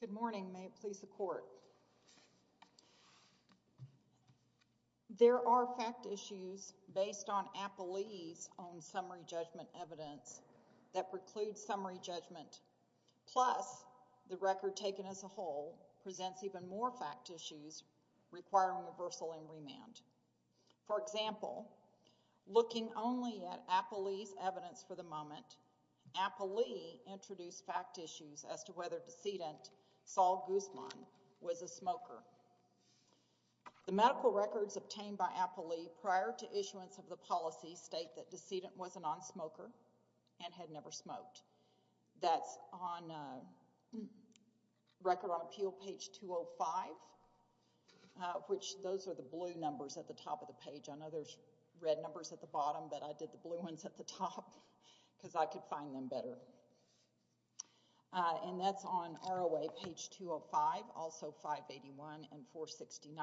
Good morning. May it please the court. There are fact issues based on Applee's own summary judgment evidence that precludes summary judgment plus the record taken as a whole presents even more fact issues requiring reversal and remand. For example, looking only at Applee's evidence for the moment, Applee introduced fact issues as to whether decedent Saul Guzman was a smoker. The medical records obtained by Applee prior to issuance of the policy state that decedent was a non-smoker and had never smoked. That's on record on appeal page 205, which those are the blue numbers at the top of the page. I know there's red numbers at the bottom, but I did the blue ones at the top because I could find them better. And that's on ROA page 205, also 581 and 469.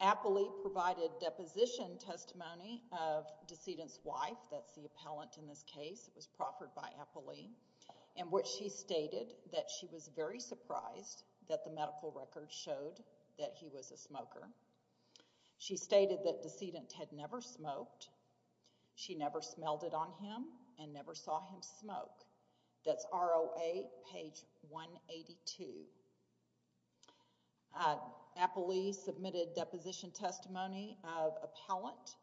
Applee provided deposition testimony of decedent's wife, that's the appellant in this case, it was proffered by Applee, in which she stated that she was very surprised that the medical records showed that he was a smoker. She stated that decedent had never smoked. She never smelled it on him and never saw him smoke. That's ROA page 182. Applee submitted deposition testimony of appellant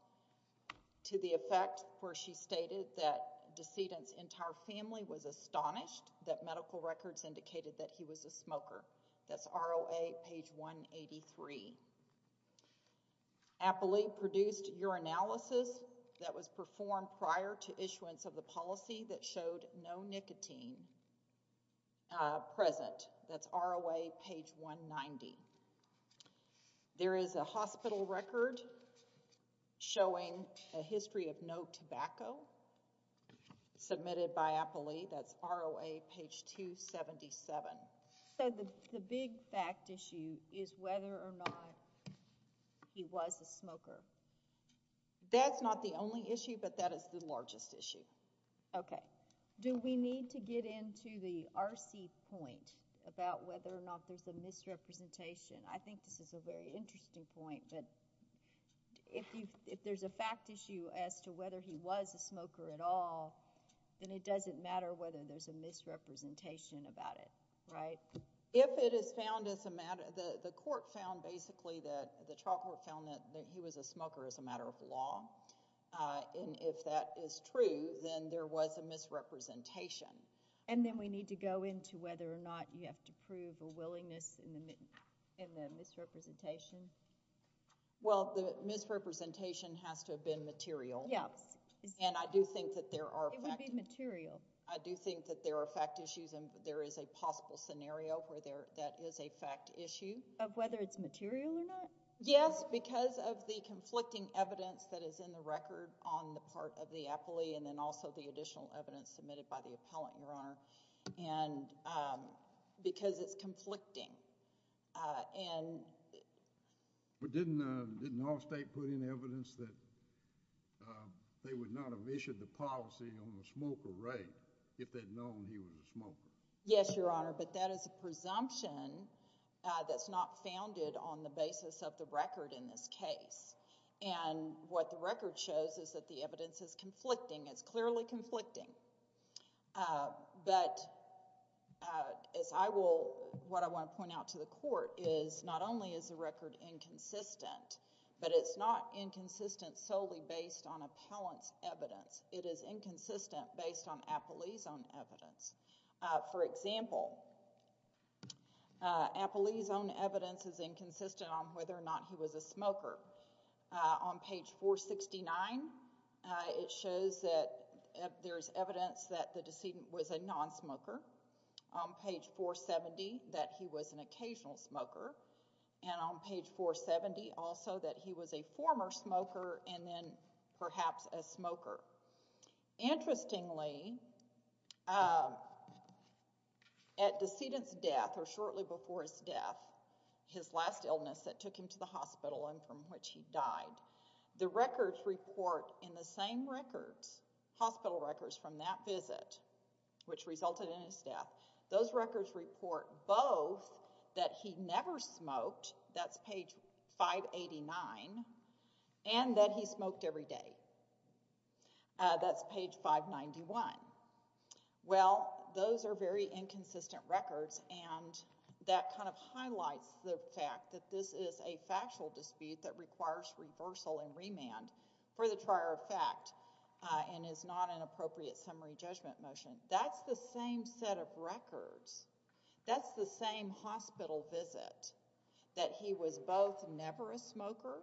to the effect where she stated that decedent's entire family was astonished that medical records indicated that he was a smoker. That's ROA page 183. Applee produced urinalysis that was performed prior to issuance of the policy that showed no nicotine present. That's ROA page 190. There is a hospital record showing a history of no tobacco submitted by Applee. That's ROA page 277. So the big fact issue is whether or not he was a smoker. That's not the only issue, but that is the largest issue. Okay, do we need to get into the RC point about whether or not there's a misrepresentation? I think this is a very interesting point, but if there's a fact issue as to whether he was a smoker at all, then it doesn't matter whether there's a misrepresentation about it, right? If it is found as a matter, the court found basically that the trial court found that he was a smoker as a matter of law, and if that is true, then there was a misrepresentation. And then we need to go into whether or not you have to prove a willingness in the misrepresentation. Well, the misrepresentation has to have been material, and I do think that there are fact issues, and there is a possible scenario where that is a fact issue. Of whether it's material or not? Yes, because of the conflicting evidence that is in the record on the part of the Applee, and then also the additional evidence submitted by the appellant, Your Honor, because it's conflicting. But didn't the North State put in evidence that they would not have issued the policy on the smoker, right, if they'd known he was a smoker? Yes, Your Honor, but that is a presumption that's not founded on the basis of the record in this clearly conflicting. But what I want to point out to the court is not only is the record inconsistent, but it's not inconsistent solely based on appellant's evidence. It is inconsistent based on Applee's own evidence. For example, Applee's own evidence is inconsistent on whether or not he was a smoker. On page 469, it shows that there's evidence that the decedent was a nonsmoker. On page 470, that he was an occasional smoker, and on page 470 also that he was a former smoker and then perhaps a smoker. Interestingly, at decedent's death or shortly before his death, his last illness that took him to the hospital and from which he died, the records report in the same records, hospital records from that visit which resulted in his death, those records report both that he never smoked, that's page 589, and that he smoked every day. That's page 591. Well, those are very inconsistent records and that kind of highlights the fact that this is a factual dispute that requires reversal and remand for the trier of fact and is not an appropriate summary judgment motion. That's the same set of records. That's the same hospital visit that he was both never a smoker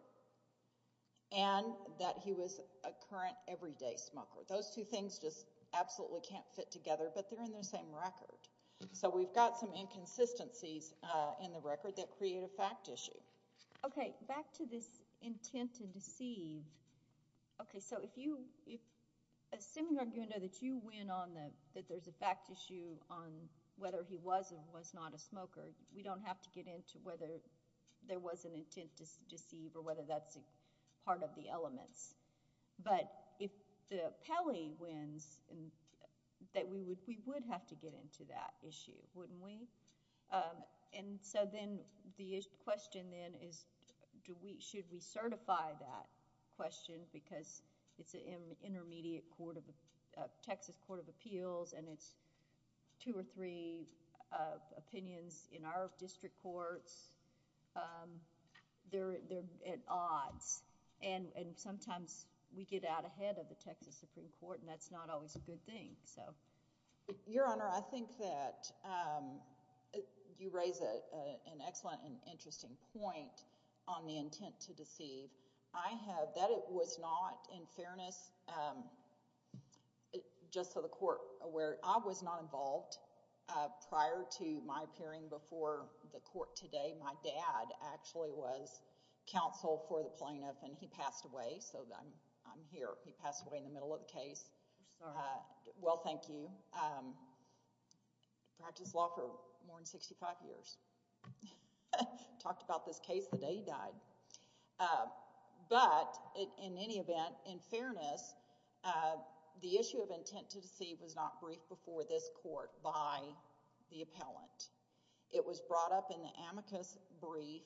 and that he was a current everyday smoker. Those two things just absolutely can't fit together, but they're in the same record. So, we've got some inconsistencies in the record that create a fact issue. Okay, back to this intent to deceive. Okay, so if you, assuming that you win on that there's a fact issue on whether he was or was not a smoker, we don't have to get into whether there was an intent to deceive or whether that's a part of the elements, but if the appellee wins that we would have to get into that issue, wouldn't we? And so then the question then is should we certify that question because it's an intermediate Texas Court of Appeals and it's two or three opinions in our district courts. They're at odds and sometimes we get out ahead of the Texas Supreme Court and that's not always a good thing. Your Honor, I think that you raise an excellent and interesting point on the intent to deceive. I have that it was not in fairness, just so the court aware, I was not involved prior to my appearing before the court today. My dad actually was counsel for the plaintiff and he passed away, so I'm here. He passed away in the middle of the case. I'm sorry. Well, thank you. Practiced law for more than 65 years. Talked about this case the day he died, but in any event, in fairness, the issue of intent to deceive was not briefed before this court by the appellant. It was brought up in the amicus brief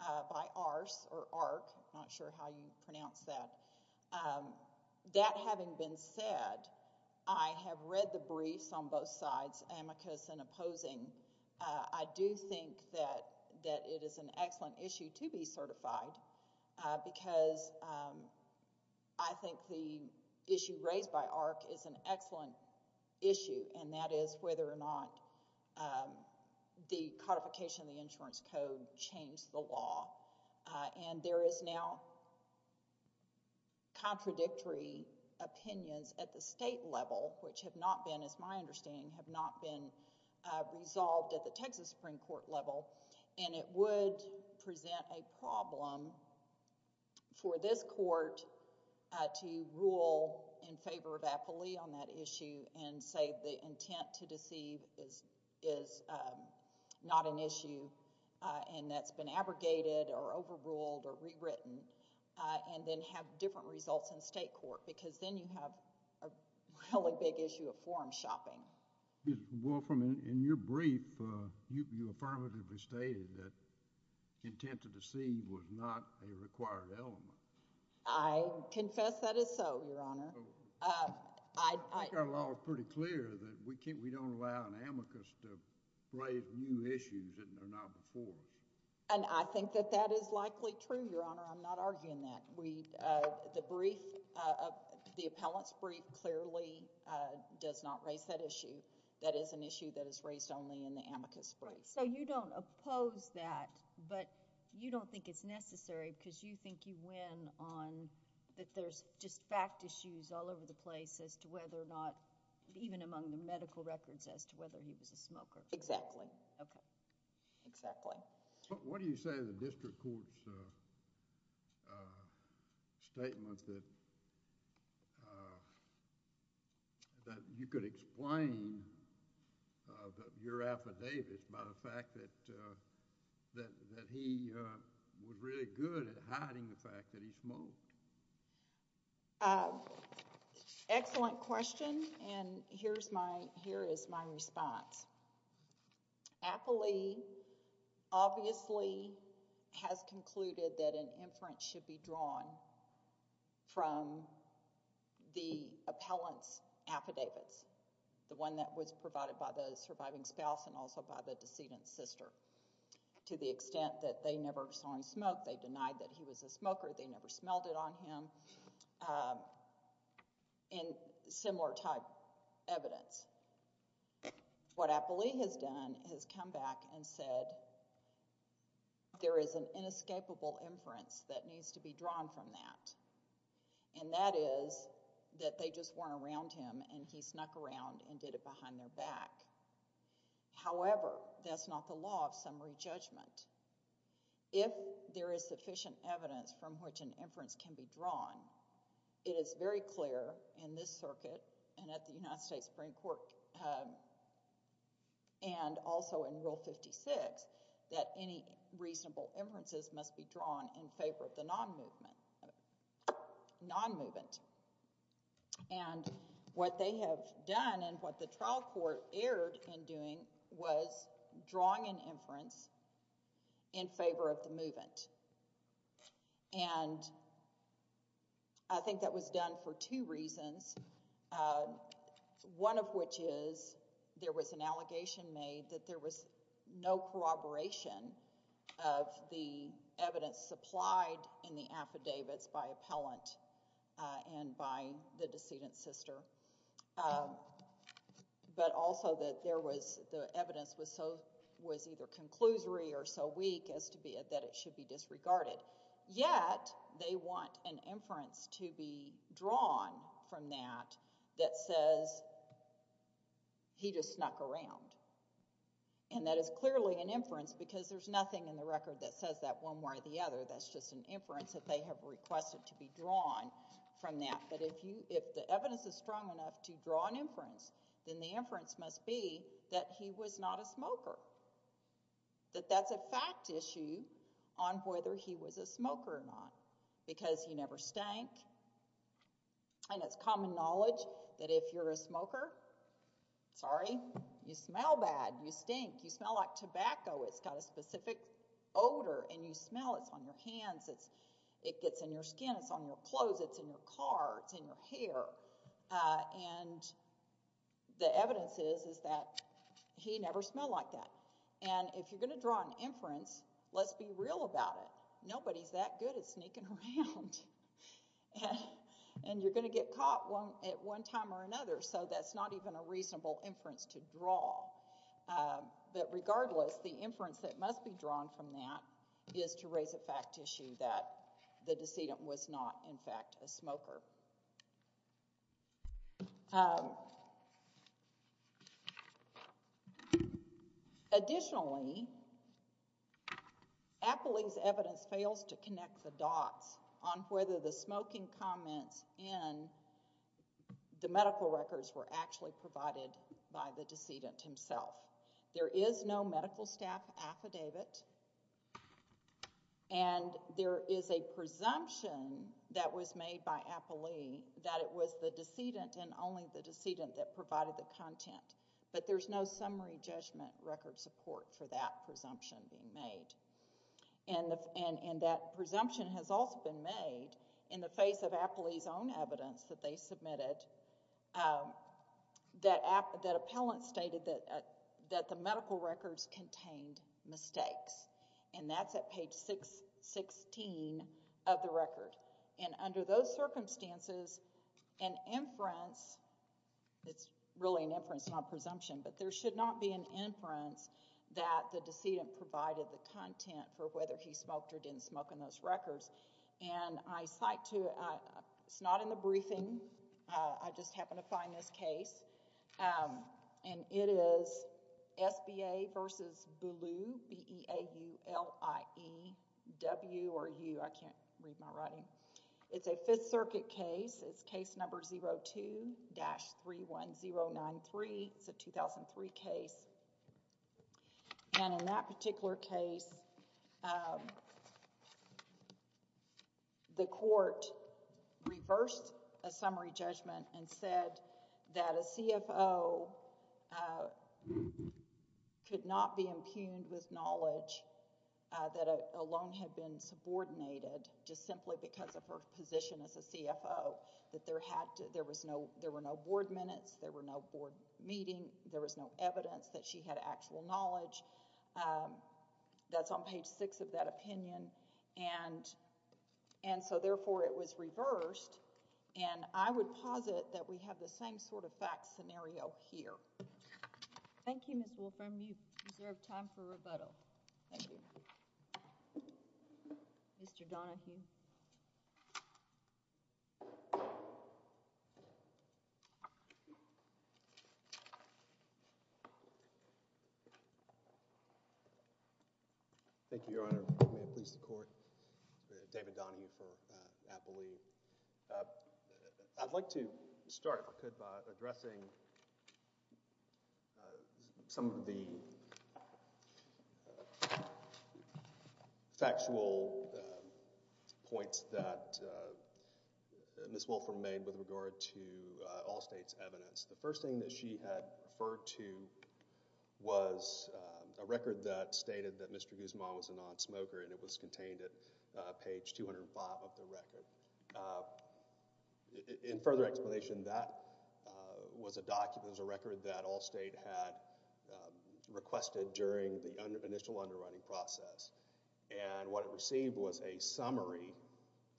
by Arce or Arck, not sure how you pronounce that. That having been said, I have read the briefs on both sides, amicus and opposing. I do think that it is an excellent issue to be certified because I think the issue raised by Arce is an excellent issue and that is whether or not the codification of the insurance code changed the law and there is now not been resolved at the Texas Supreme Court level and it would present a problem for this court to rule in favor of appellee on that issue and say the intent to deceive is not an issue and that's been abrogated or overruled or rewritten and then have different results in state court because then you have a really big issue of shopping. Well, in your brief, you affirmatively stated that intent to deceive was not a required element. I confess that is so, Your Honor. I think our law is pretty clear that we don't allow an amicus to raise new issues that are not before us. And I think that that is likely true, Your Honor. I'm not arguing that. The brief, the appellant's brief clearly does not raise that issue. That is an issue that is raised only in the amicus brief. So you don't oppose that but you don't think it's necessary because you think you win on that there's just fact issues all over the place as to whether or not even among the medical records as to whether he was a smoker. Exactly. Okay. Exactly. What do you say to the district court's statement that you could explain your affidavits about the fact that he was really good at hiding the fact that he smoked? Excellent question. And here is my response. Appley obviously has concluded that an inference should be drawn from the appellant's affidavits, the one that was provided by the surviving spouse and also by the decedent's sister, to the extent that they never saw him smoke. They denied that he was a smoker. They never smelled it on him. And similar type evidence. What Appley has done is come back and said there is an inescapable inference that needs to be drawn from that. And that is that they just weren't around him and he snuck around and did it behind their back. However, that's not the law of summary judgment. If there is sufficient evidence from which an inference can be drawn, it is very clear in this circuit and at the United States Supreme Court and also in Rule 56 that any reasonable inferences must be drawn in favor of the non-movement. And what they have done and what the trial court erred in doing was drawing an inference in favor of the movement. And I think that was done for two reasons. One of which is there was an allegation made that there was no corroboration of the evidence supplied in the affidavits by appellant and by the decedent's sister. But also that there was the evidence was so was either conclusory or so weak as to be that it should be disregarded. Yet they want an inference to be drawn from that that says he just snuck around. And that is clearly an inference because there's nothing in the record that says that one way or the other. That's just an inference that they have requested to be drawn from that. But if you, if the evidence is strong enough to draw an inference, then the inference must be that he was not a smoker. That that's a fact issue on whether he was a smoker or not because he never stank. And it's common knowledge that if you're a smoker, sorry, you smell bad. You stink. You smell like your hands. It gets in your skin. It's on your clothes. It's in your car. It's in your hair. And the evidence is that he never smelled like that. And if you're going to draw an inference, let's be real about it. Nobody's that good at sneaking around. And you're going to get caught at one time or another. So that's not even a reasonable inference to draw. But regardless, the inference that must be drawn from that is to raise a fact issue that the decedent was not, in fact, a smoker. Additionally, Appley's evidence fails to connect the dots on whether the smoking comments in the medical records were actually provided by the decedent himself. There is no medical staff affidavit. And there is a presumption that was made by Appley that it was the decedent and only the decedent that provided the content. But there's no summary judgment record support for that presumption being made. And that presumption has also been made in the face Appley's own evidence that they submitted, that appellant stated that the medical records contained mistakes. And that's at page 616 of the record. And under those circumstances, an inference, it's really an inference, not a presumption, but there should not be an inference that the decedent provided the content for whether he smoked or didn't smoke in those records. And I cite to, it's not in the briefing. I just happened to find this case. And it is SBA v. Boulu, B-E-A-U-L-I-E-W or U, I can't read my writing. It's a Fifth Circuit case. It's case number 02-31093. It's a 2003 case. And in that particular case, the court reversed a summary judgment and said that a CFO could not be impugned with knowledge that alone had been subordinated just simply because of her position as a CFO, that there had to, there was no, there were no board minutes, there were no board meeting, there was no evidence that she had actual knowledge. That's on page 6 of that opinion. And so therefore, it was reversed. And I would posit that we have the same sort of fact scenario here. Thank you, Ms. Wolfram. You've reserved time for rebuttal. Thank you. Mr. Donahue. Thank you, Your Honor. May it please the Court. David Donahue for Apple Leaf. I'd like to start, if I could, by addressing some of the factual points that Ms. Wolfram made with regard to all state's evidence. The first thing that she had referred to was a record that stated that Mr. Guzman was a non-smoker, and it was contained at page 205 of the record. In further explanation, that was a document, it was a record that Allstate had requested during the initial underwriting process, and what it received was a summary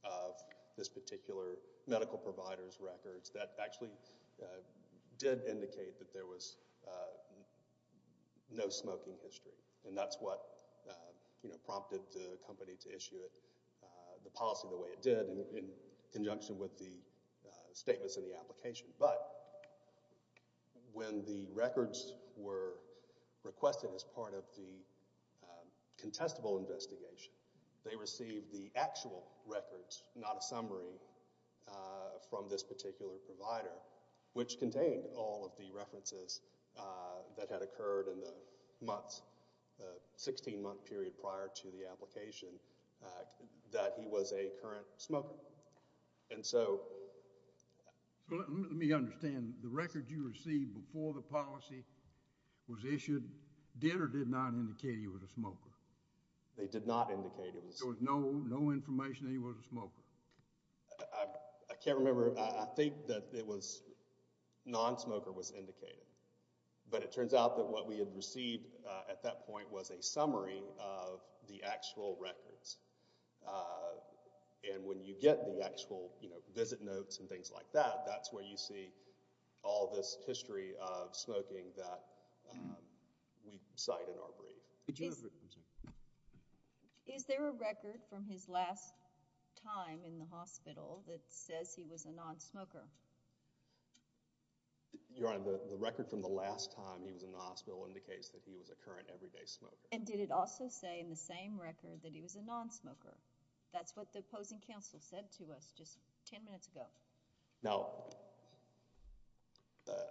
of this particular medical provider's records that actually did indicate that there was no smoking history. And that's what prompted the company to issue it, the policy the way it did, in conjunction with the statements in the application. But when the records were requested as part of the contestable investigation, they received the actual records, not a summary, from this particular provider, which contained all of the references that had occurred in the months, the 16-month period prior to the application, that he was a current smoker. And so... So let me understand, the records you received before the policy was issued did or did not indicate he was a smoker? They did not indicate he was a smoker. There was no information that he was a smoker? I can't remember. I think that it was non-smoker was indicated, but it turns out that what we had received at that point was a summary of the actual records. And when you get the actual, you know, visit notes and things like that, that's where you see all this history of smoking that we cite in our brief. Is there a record from his last time in the hospital that says he was a non-smoker? Your Honor, the record from the last time he was in the hospital indicates that he was a current everyday smoker. And did it also say in the same record that he was a non-smoker? That's what the opposing counsel said to us just 10 minutes ago. Now,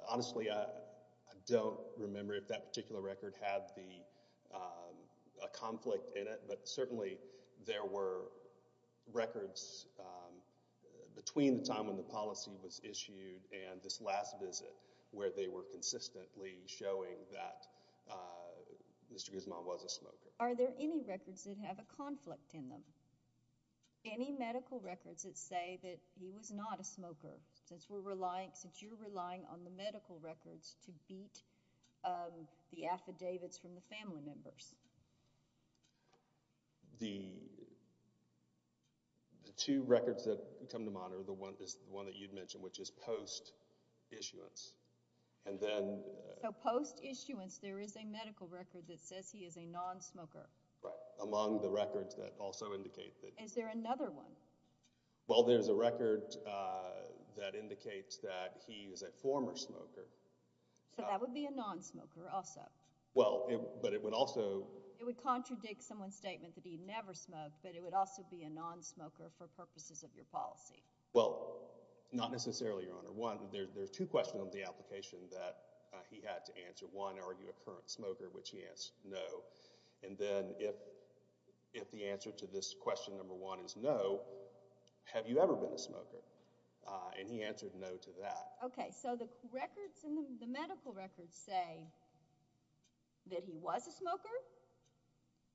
honestly, I don't remember if that particular record had a conflict in it, but certainly there were records between the time when the policy was issued and this last visit where they were consistently showing that Mr. Guzman was a smoker. Are there any records that have a conflict in them? Any medical records that say that he was not a smoker since you're relying on the medical records to beat the affidavits from the family members? The two records that come to mind is the one that you mentioned, which is post issuance. So post issuance there is a medical record that says he is a non-smoker? Right, among the records that also indicate that. Is there another one? Well, there's a record that indicates that he is a former smoker. So that would be a non-smoker also? Well, but it would also... It would contradict someone's statement that he never smoked, but it would also be a non-smoker for purposes of your policy? Well, not necessarily, Your Honor. One, there's two questions on the application that he had to answer. One, are you a current is no. Have you ever been a smoker? And he answered no to that. Okay, so the records and the medical records say that he was a smoker,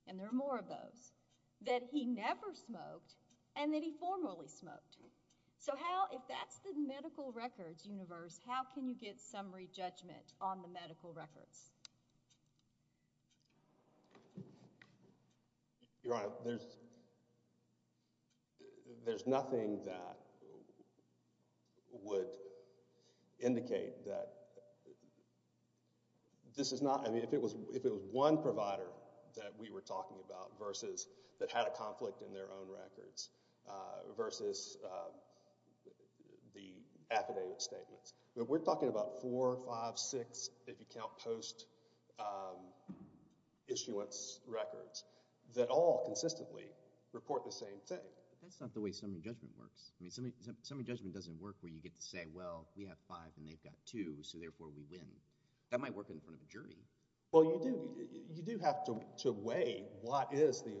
and there are more of those, that he never smoked, and that he formerly smoked. So how, if that's the medical records universe, how can you get summary judgment on the medical records? Your Honor, there's nothing that would indicate that this is not... I mean, if it was one provider that we were talking about versus that had a conflict in their own records versus the affidavit statements. We're talking about four, five, six, if you count post-issuance records that all consistently report the same thing. That's not the way summary judgment works. I mean, summary judgment doesn't work where you get to say, well, we have five and they've got two, so therefore we win. That might work in front of a jury. Well, you do have to weigh what is the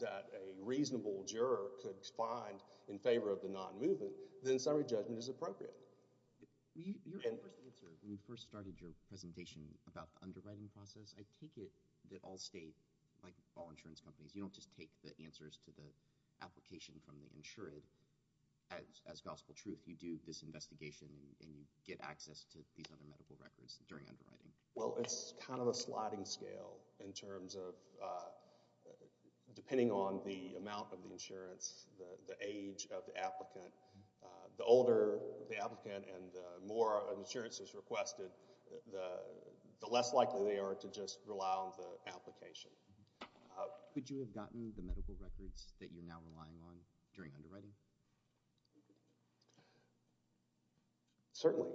that a reasonable juror could find in favor of the non-movement, then summary judgment is appropriate. Your first answer, when you first started your presentation about the underwriting process, I take it that all state, like all insurance companies, you don't just take the answers to the application from the insured. As gospel truth, you do this investigation and you get access to these other medical records during underwriting. Well, it's kind of a sliding scale in terms of depending on the amount of the insurance, the age of the applicant, the older the applicant and the more insurance is requested, the less likely they are to just rely on the application. Could you have gotten the medical records that you're now relying on during underwriting? Certainly.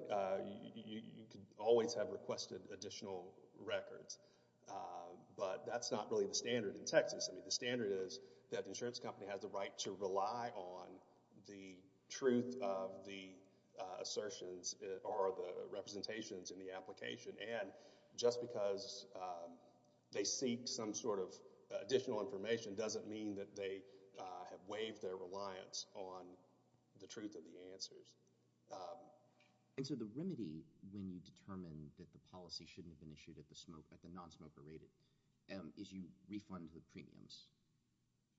You could always have requested additional records, but that's not really the standard in Texas. I mean, the standard is that the insurance company has the right to rely on the truth of the assertions or the representations in the application and just because they seek some sort of additional information doesn't mean that they have waived their reliance on the truth of the answers. And so the remedy when you determine that the policy shouldn't have been issued at the time, is to refund the premiums.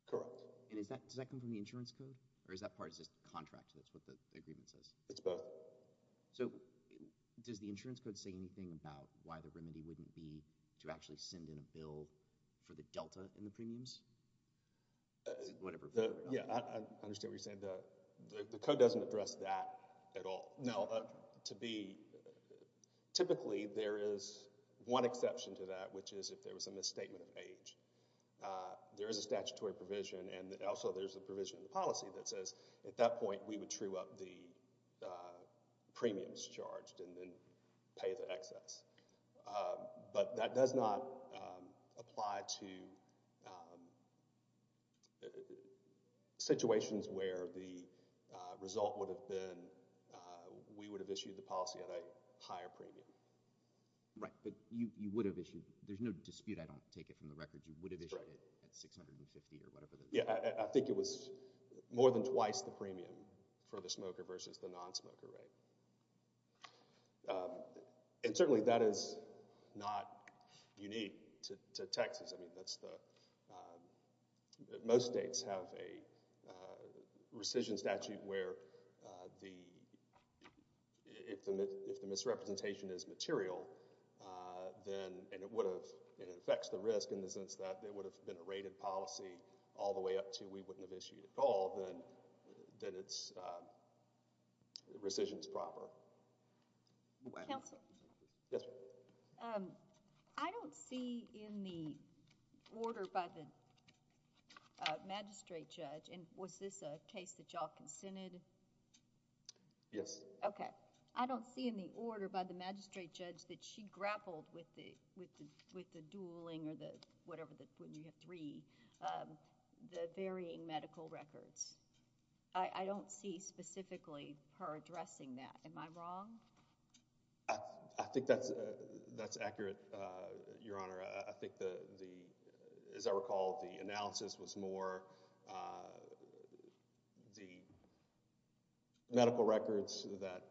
Correct. And does that come from the insurance code or is that part of the contract? That's what the agreement says. It's both. So, does the insurance code say anything about why the remedy wouldn't be to actually send in a bill for the delta in the premiums? Yeah, I understand what you're saying. The code doesn't address that at all. Typically, there is one exception to that, which is if there was a misstatement of age. There is a statutory provision and also there's a provision in the policy that says at that point we would true up the premiums charged and then pay the excess. But that does not apply to situations where the result would have been we would have issued the policy at a higher premium. Right, but you would have issued, there's no dispute, I don't take it from the record, you would have issued it at $650 or whatever. Yeah, I think it was more than twice the premium for the smoker versus the non-smoker rate. And certainly that is not unique to Texas. I mean, if the policy is material and it affects the risk in the sense that it would have been a rated policy all the way up to we wouldn't have issued at all, then the rescission is proper. I don't see in the order by the magistrate judge, and was this a case that y'all consented? Yes. Okay. I don't see in the order by the magistrate judge that she grappled with the dueling or the whatever, you have three, the varying medical records. I don't see specifically her addressing that. Am I wrong? I think that's accurate, Your Honor. I think the, as I recall, the analysis was more the medical records that,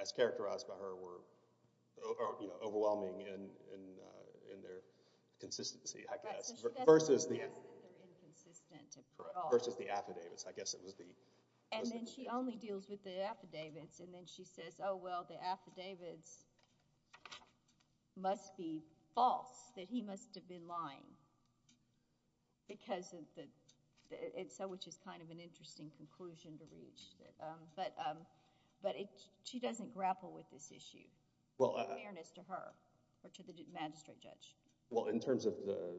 as characterized by her, were overwhelming in their consistency, I guess, versus the affidavits. And then she only deals with the affidavits and then she says, oh well, the affidavits must be false, that he must have been lying. So which is kind of an interesting conclusion to reach. But she doesn't grapple with this issue in fairness to her or to the magistrate judge. Well, in terms of the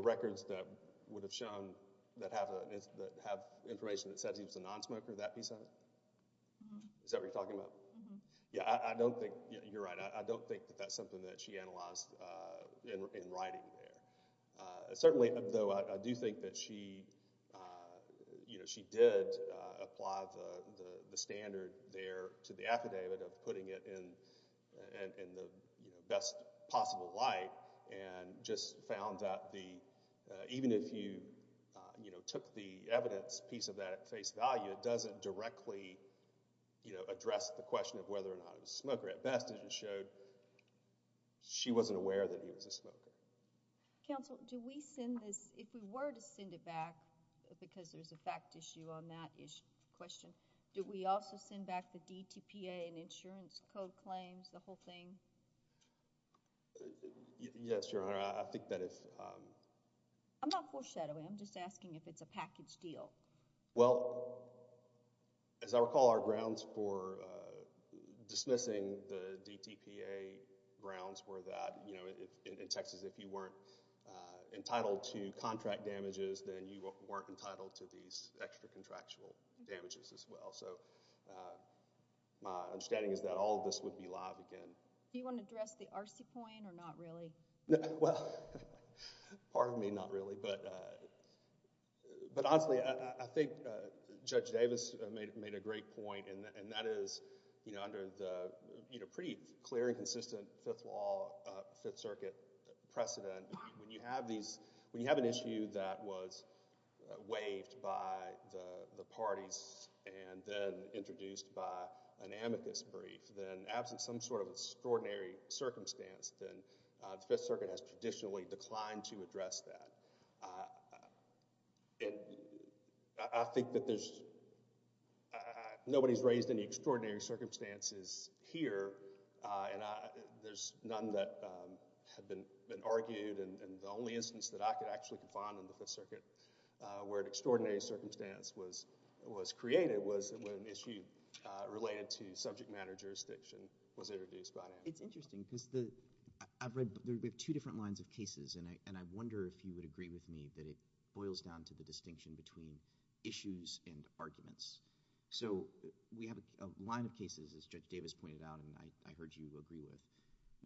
records that would have shown that have information that says he was a nonsmoker, that piece of it? Is that what you're talking about? Yeah, I don't think, you're right, I don't think that that's something that she analyzed in writing there. Certainly, though, I do think that she did apply the standard there to the affidavit of putting it in the best possible light and just found that the, even if you took the evidence piece of that at face value, it doesn't directly address the she wasn't aware that he was a smoker. Counsel, do we send this, if we were to send it back, because there's a fact issue on that issue, question, do we also send back the DTPA and insurance code claims, the whole thing? Yes, Your Honor, I think that if... I'm not foreshadowing, I'm just asking if it's a package deal. Well, as I recall, our grounds for dismissing the DTPA grounds were that, you know, if in Texas, if you weren't entitled to contract damages, then you weren't entitled to these extra contractual damages as well. So my understanding is that all of this would be live again. Do you want to address the RC point or not really? Well, pardon me, not really. But honestly, I think Judge Davis made a great point. And that is, you know, under the pretty clear and consistent Fifth Law, Fifth Circuit precedent, when you have these, when you have an issue that was waived by the parties and then introduced by an amicus brief, then absent some sort of extraordinary circumstance, then the Fifth Circuit has traditionally declined to address that. And I think that there's, nobody's raised any extraordinary circumstances here. And there's none that have been argued. And the only instance that I could actually confine in the Fifth Circuit, where an extraordinary circumstance was created, was when an issue related to subject matter jurisdiction was introduced by an amicus. It's interesting because the, I've read, we have two different lines of cases, and I wonder if you would agree with me that it boils down to the distinction between issues and arguments. So we have a line of cases, as Judge Davis pointed out, and I heard you agree with,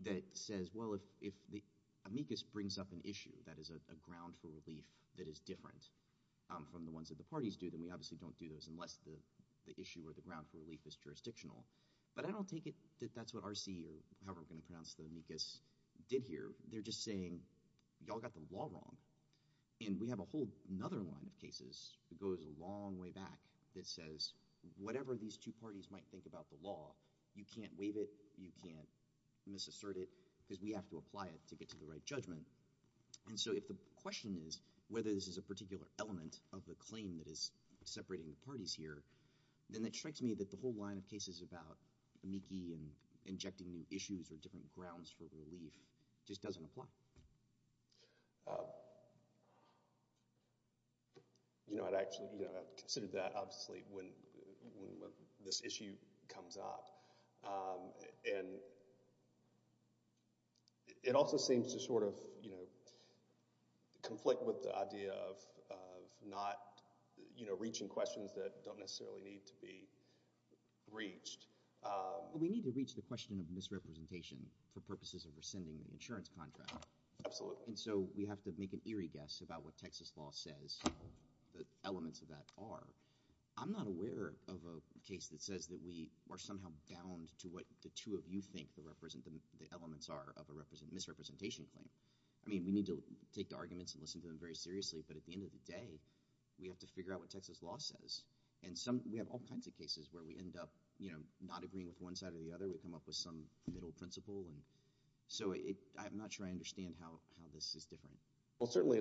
that says, well, if the amicus brings up an issue that is a ground for relief that is different from the ones that parties do, then we obviously don't do those unless the issue or the ground for relief is jurisdictional. But I don't take it that that's what R.C., or however we're going to pronounce the amicus, did here. They're just saying, y'all got the law wrong. And we have a whole nother line of cases that goes a long way back that says, whatever these two parties might think about the law, you can't waive it, you can't misassert it, because we have to apply it to get to the right judgment. And so if the question is whether this is a particular element of the claim that is separating the parties here, then it strikes me that the whole line of cases about amici and injecting new issues or different grounds for relief just doesn't apply. You know, I'd actually considered that, obviously, when this issue comes up. And it also seems to sort of, you know, conflict with the idea of not, you know, reaching questions that don't necessarily need to be reached. We need to reach the question of misrepresentation for purposes of rescinding the insurance contract. Absolutely. And so we have to make an eerie guess about what Texas law says, the elements of that are. I'm not aware of a case that says that we are somehow bound to what the two of you think the elements are of a misrepresentation claim. I mean, we need to take the arguments and listen to them very seriously. But at the end of the day, we have to figure out what Texas law says. And we have all kinds of cases where we end up, you know, not agreeing with one side or the other. We come up with some middle principle. And so I'm not sure I understand how this is different. Well, certainly,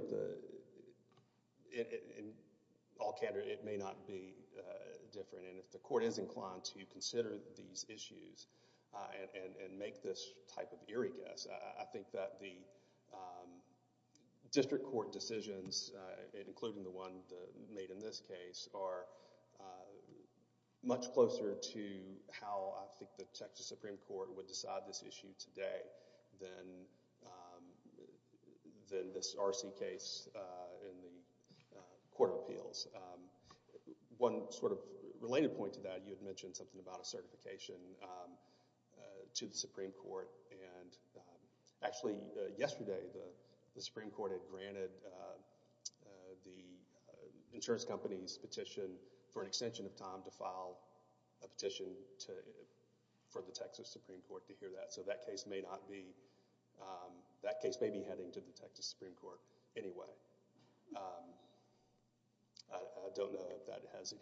in all candor, it may not be different. And if the court is inclined to consider these issues and make this type of eerie guess, I think that the district court decisions, including the one made in this case, are much closer to how I think the Texas Supreme Court would decide this issue today than than this RC case in the Court of Appeals. One sort of related point to that, you had mentioned something about a certification to the Supreme Court. And actually, yesterday, the Supreme Court had granted the insurance company's petition for an extension of time to file a petition to, for the Texas Supreme Court to hear that. So that case may not be, that case may be heading to the Texas Supreme Court anyway. I don't know if that has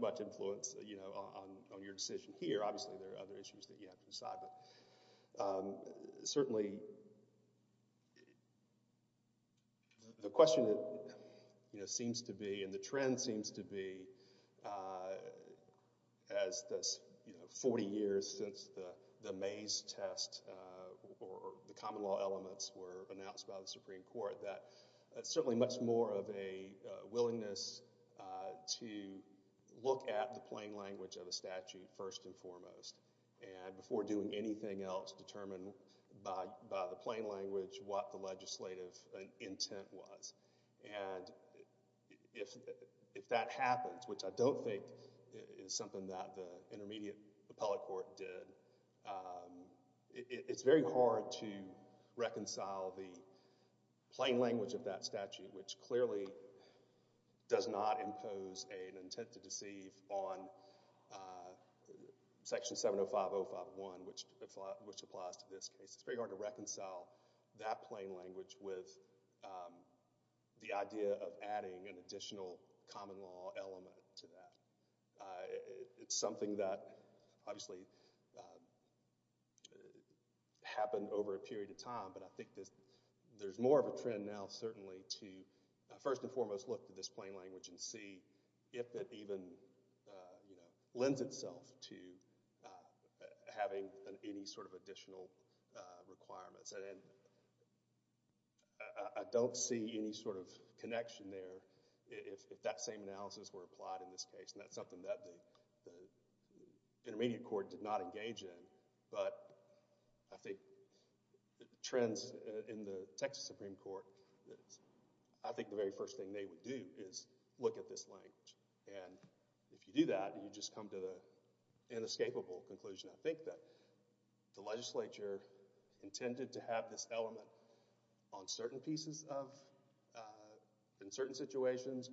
much influence, you know, on your decision here. Obviously, there are other issues that you have to decide. But certainly, the question that, you know, seems to be and the trend seems to be as this, you know, 40 years since the Mays test or the common law elements were announced by the Supreme Court, that it's certainly much more of a willingness to look at the plain language of the statute first and foremost. And before doing anything else, determine by the plain language what the legislative intent was. And if that happens, which I don't think is something that the intermediate appellate court did, it's very hard to reconcile the plain language of that statute, which clearly does not impose an intent to deceive on Section 705051, which applies to this case. It's very hard to reconcile that plain language with the idea of adding an additional common law element to that. It's something that obviously happened over a period of time, but I think there's more of a trend now certainly to first and foremost look at this plain language. And if you do that, you just come to the inescapable conclusion. I think that the legislature intended to have this element on certain pieces of, in certain situations,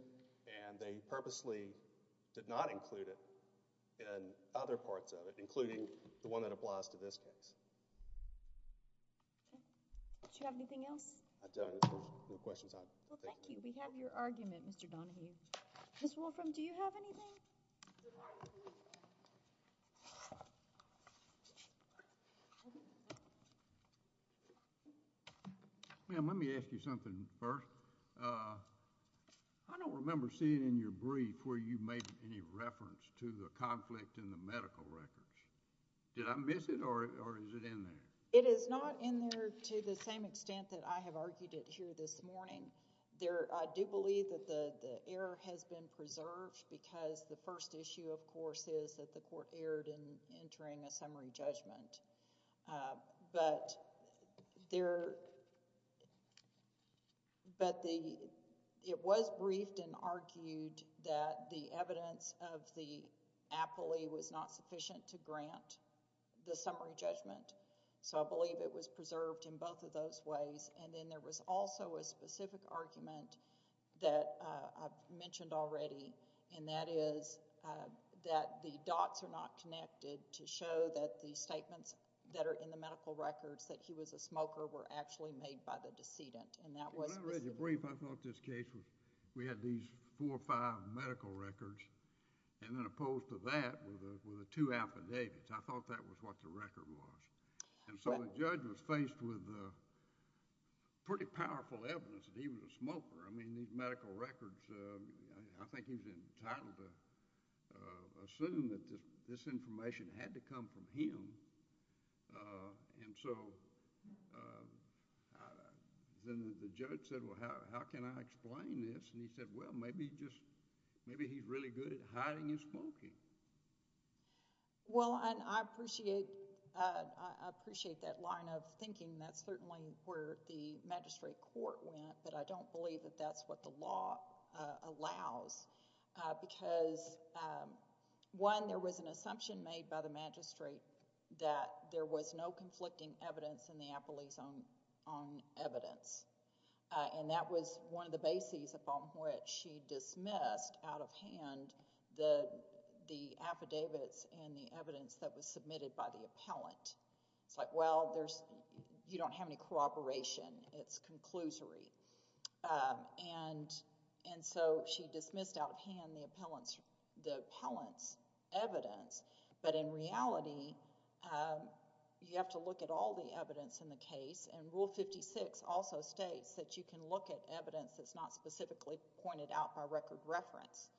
and they purposely did not include it in other parts of it, including the one that applies to this case. Do you have anything else? I don't, if there's no questions. Well, thank you. We have your argument, Mr. Donahue. Ms. Wolfram, do you have anything? Well, let me ask you something first. I don't remember seeing in your brief where you made any reference to the conflict in the medical records. Did I miss it, or is it in there? It is not in there to the same extent that I have argued it here this morning. I do believe that the error has been preserved because the first issue, of course, is that the summary judgment, but there, but the, it was briefed and argued that the evidence of the appellee was not sufficient to grant the summary judgment, so I believe it was preserved in both of those ways. And then there was also a specific argument that I've mentioned already, and that is that the dots are not connected to show that the statements that are in the medical records, that he was a smoker, were actually made by the decedent, and that was... When I read your brief, I thought this case was, we had these four or five medical records, and then opposed to that were the two affidavits. I thought that was what the record was, and so the judge was faced with pretty powerful evidence that he was a smoker. I mean, assuming that this information had to come from him, and so then the judge said, well, how can I explain this? And he said, well, maybe he's really good at hiding his smoking. Well, and I appreciate that line of thinking. That's certainly where the magistrate court went, but I don't believe that that's what the law allows because one, there was an assumption made by the magistrate that there was no conflicting evidence in the appellee's own evidence, and that was one of the bases upon which she dismissed out of hand the affidavits and the evidence that was submitted by the appellant. It's like, well, you don't have any corroboration. It's conclusory, and so she dismissed out of hand the appellant's evidence, but in reality, you have to look at all the evidence in the case, and Rule 56 also states that you can look at evidence that's not specifically pointed out by record reference,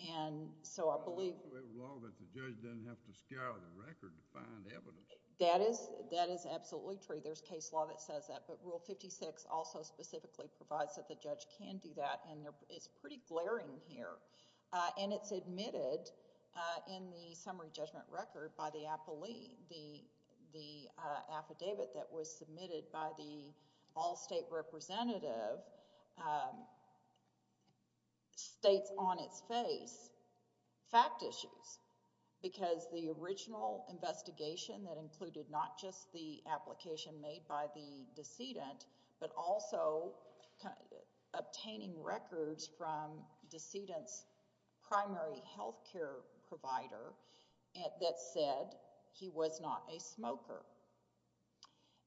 and so I believe... Well, it's the way of the law that the judge doesn't have to scour the record to find evidence. That is absolutely true. There's case law that says that, but Rule 56 also specifically provides that the judge can do that, and it's pretty in the summary judgment record by the appellee. The affidavit that was submitted by the all-state representative states on its face fact issues because the original investigation that included not just the application made by the decedent, but also obtaining records from decedent's primary health care provider that said he was not a smoker,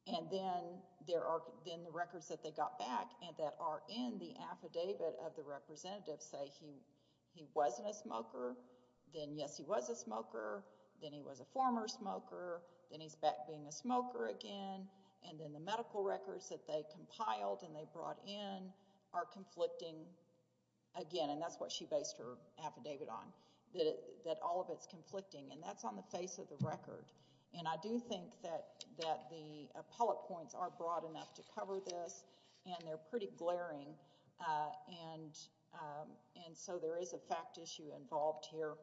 and then the records that they got back and that are in the affidavit of the representative say he wasn't a smoker, then yes, he was a smoker, then he was a former smoker, then he's back being a smoker again, and then the medical records that they compiled and they brought in are conflicting again, that's what she based her affidavit on, that all of it's conflicting, and that's on the face of the record, and I do think that the appellate points are broad enough to cover this and they're pretty glaring, and so there is a fact issue involved here,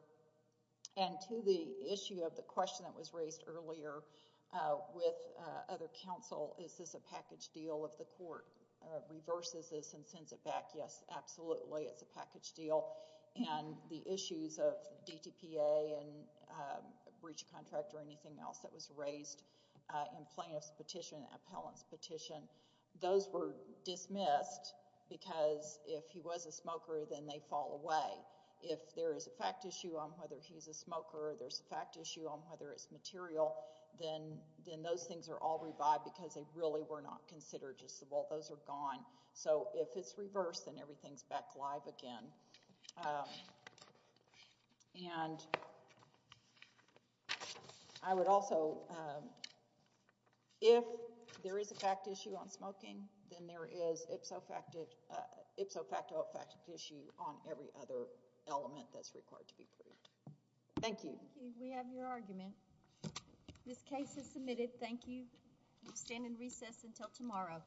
and to the issue of the question that was raised earlier with other counsel, is this a package deal if the court reverses this and sends it back, yes, absolutely, it's a package deal, and the issues of DTPA and breach contract or anything else that was raised in plaintiff's petition, appellant's petition, those were dismissed because if he was a smoker, then they fall away. If there is a fact issue on whether he's a smoker, there's a fact issue on whether it's material, then those things are all revived because they really were not considered just the, well, those are gone, so if it's reversed, then everything's back live again, and I would also, if there is a fact issue on smoking, then there is ipso facto fact issue on every other element that's required to be proved. Thank you. We have your argument. This case is submitted. Thank you. We stand in recess until tomorrow.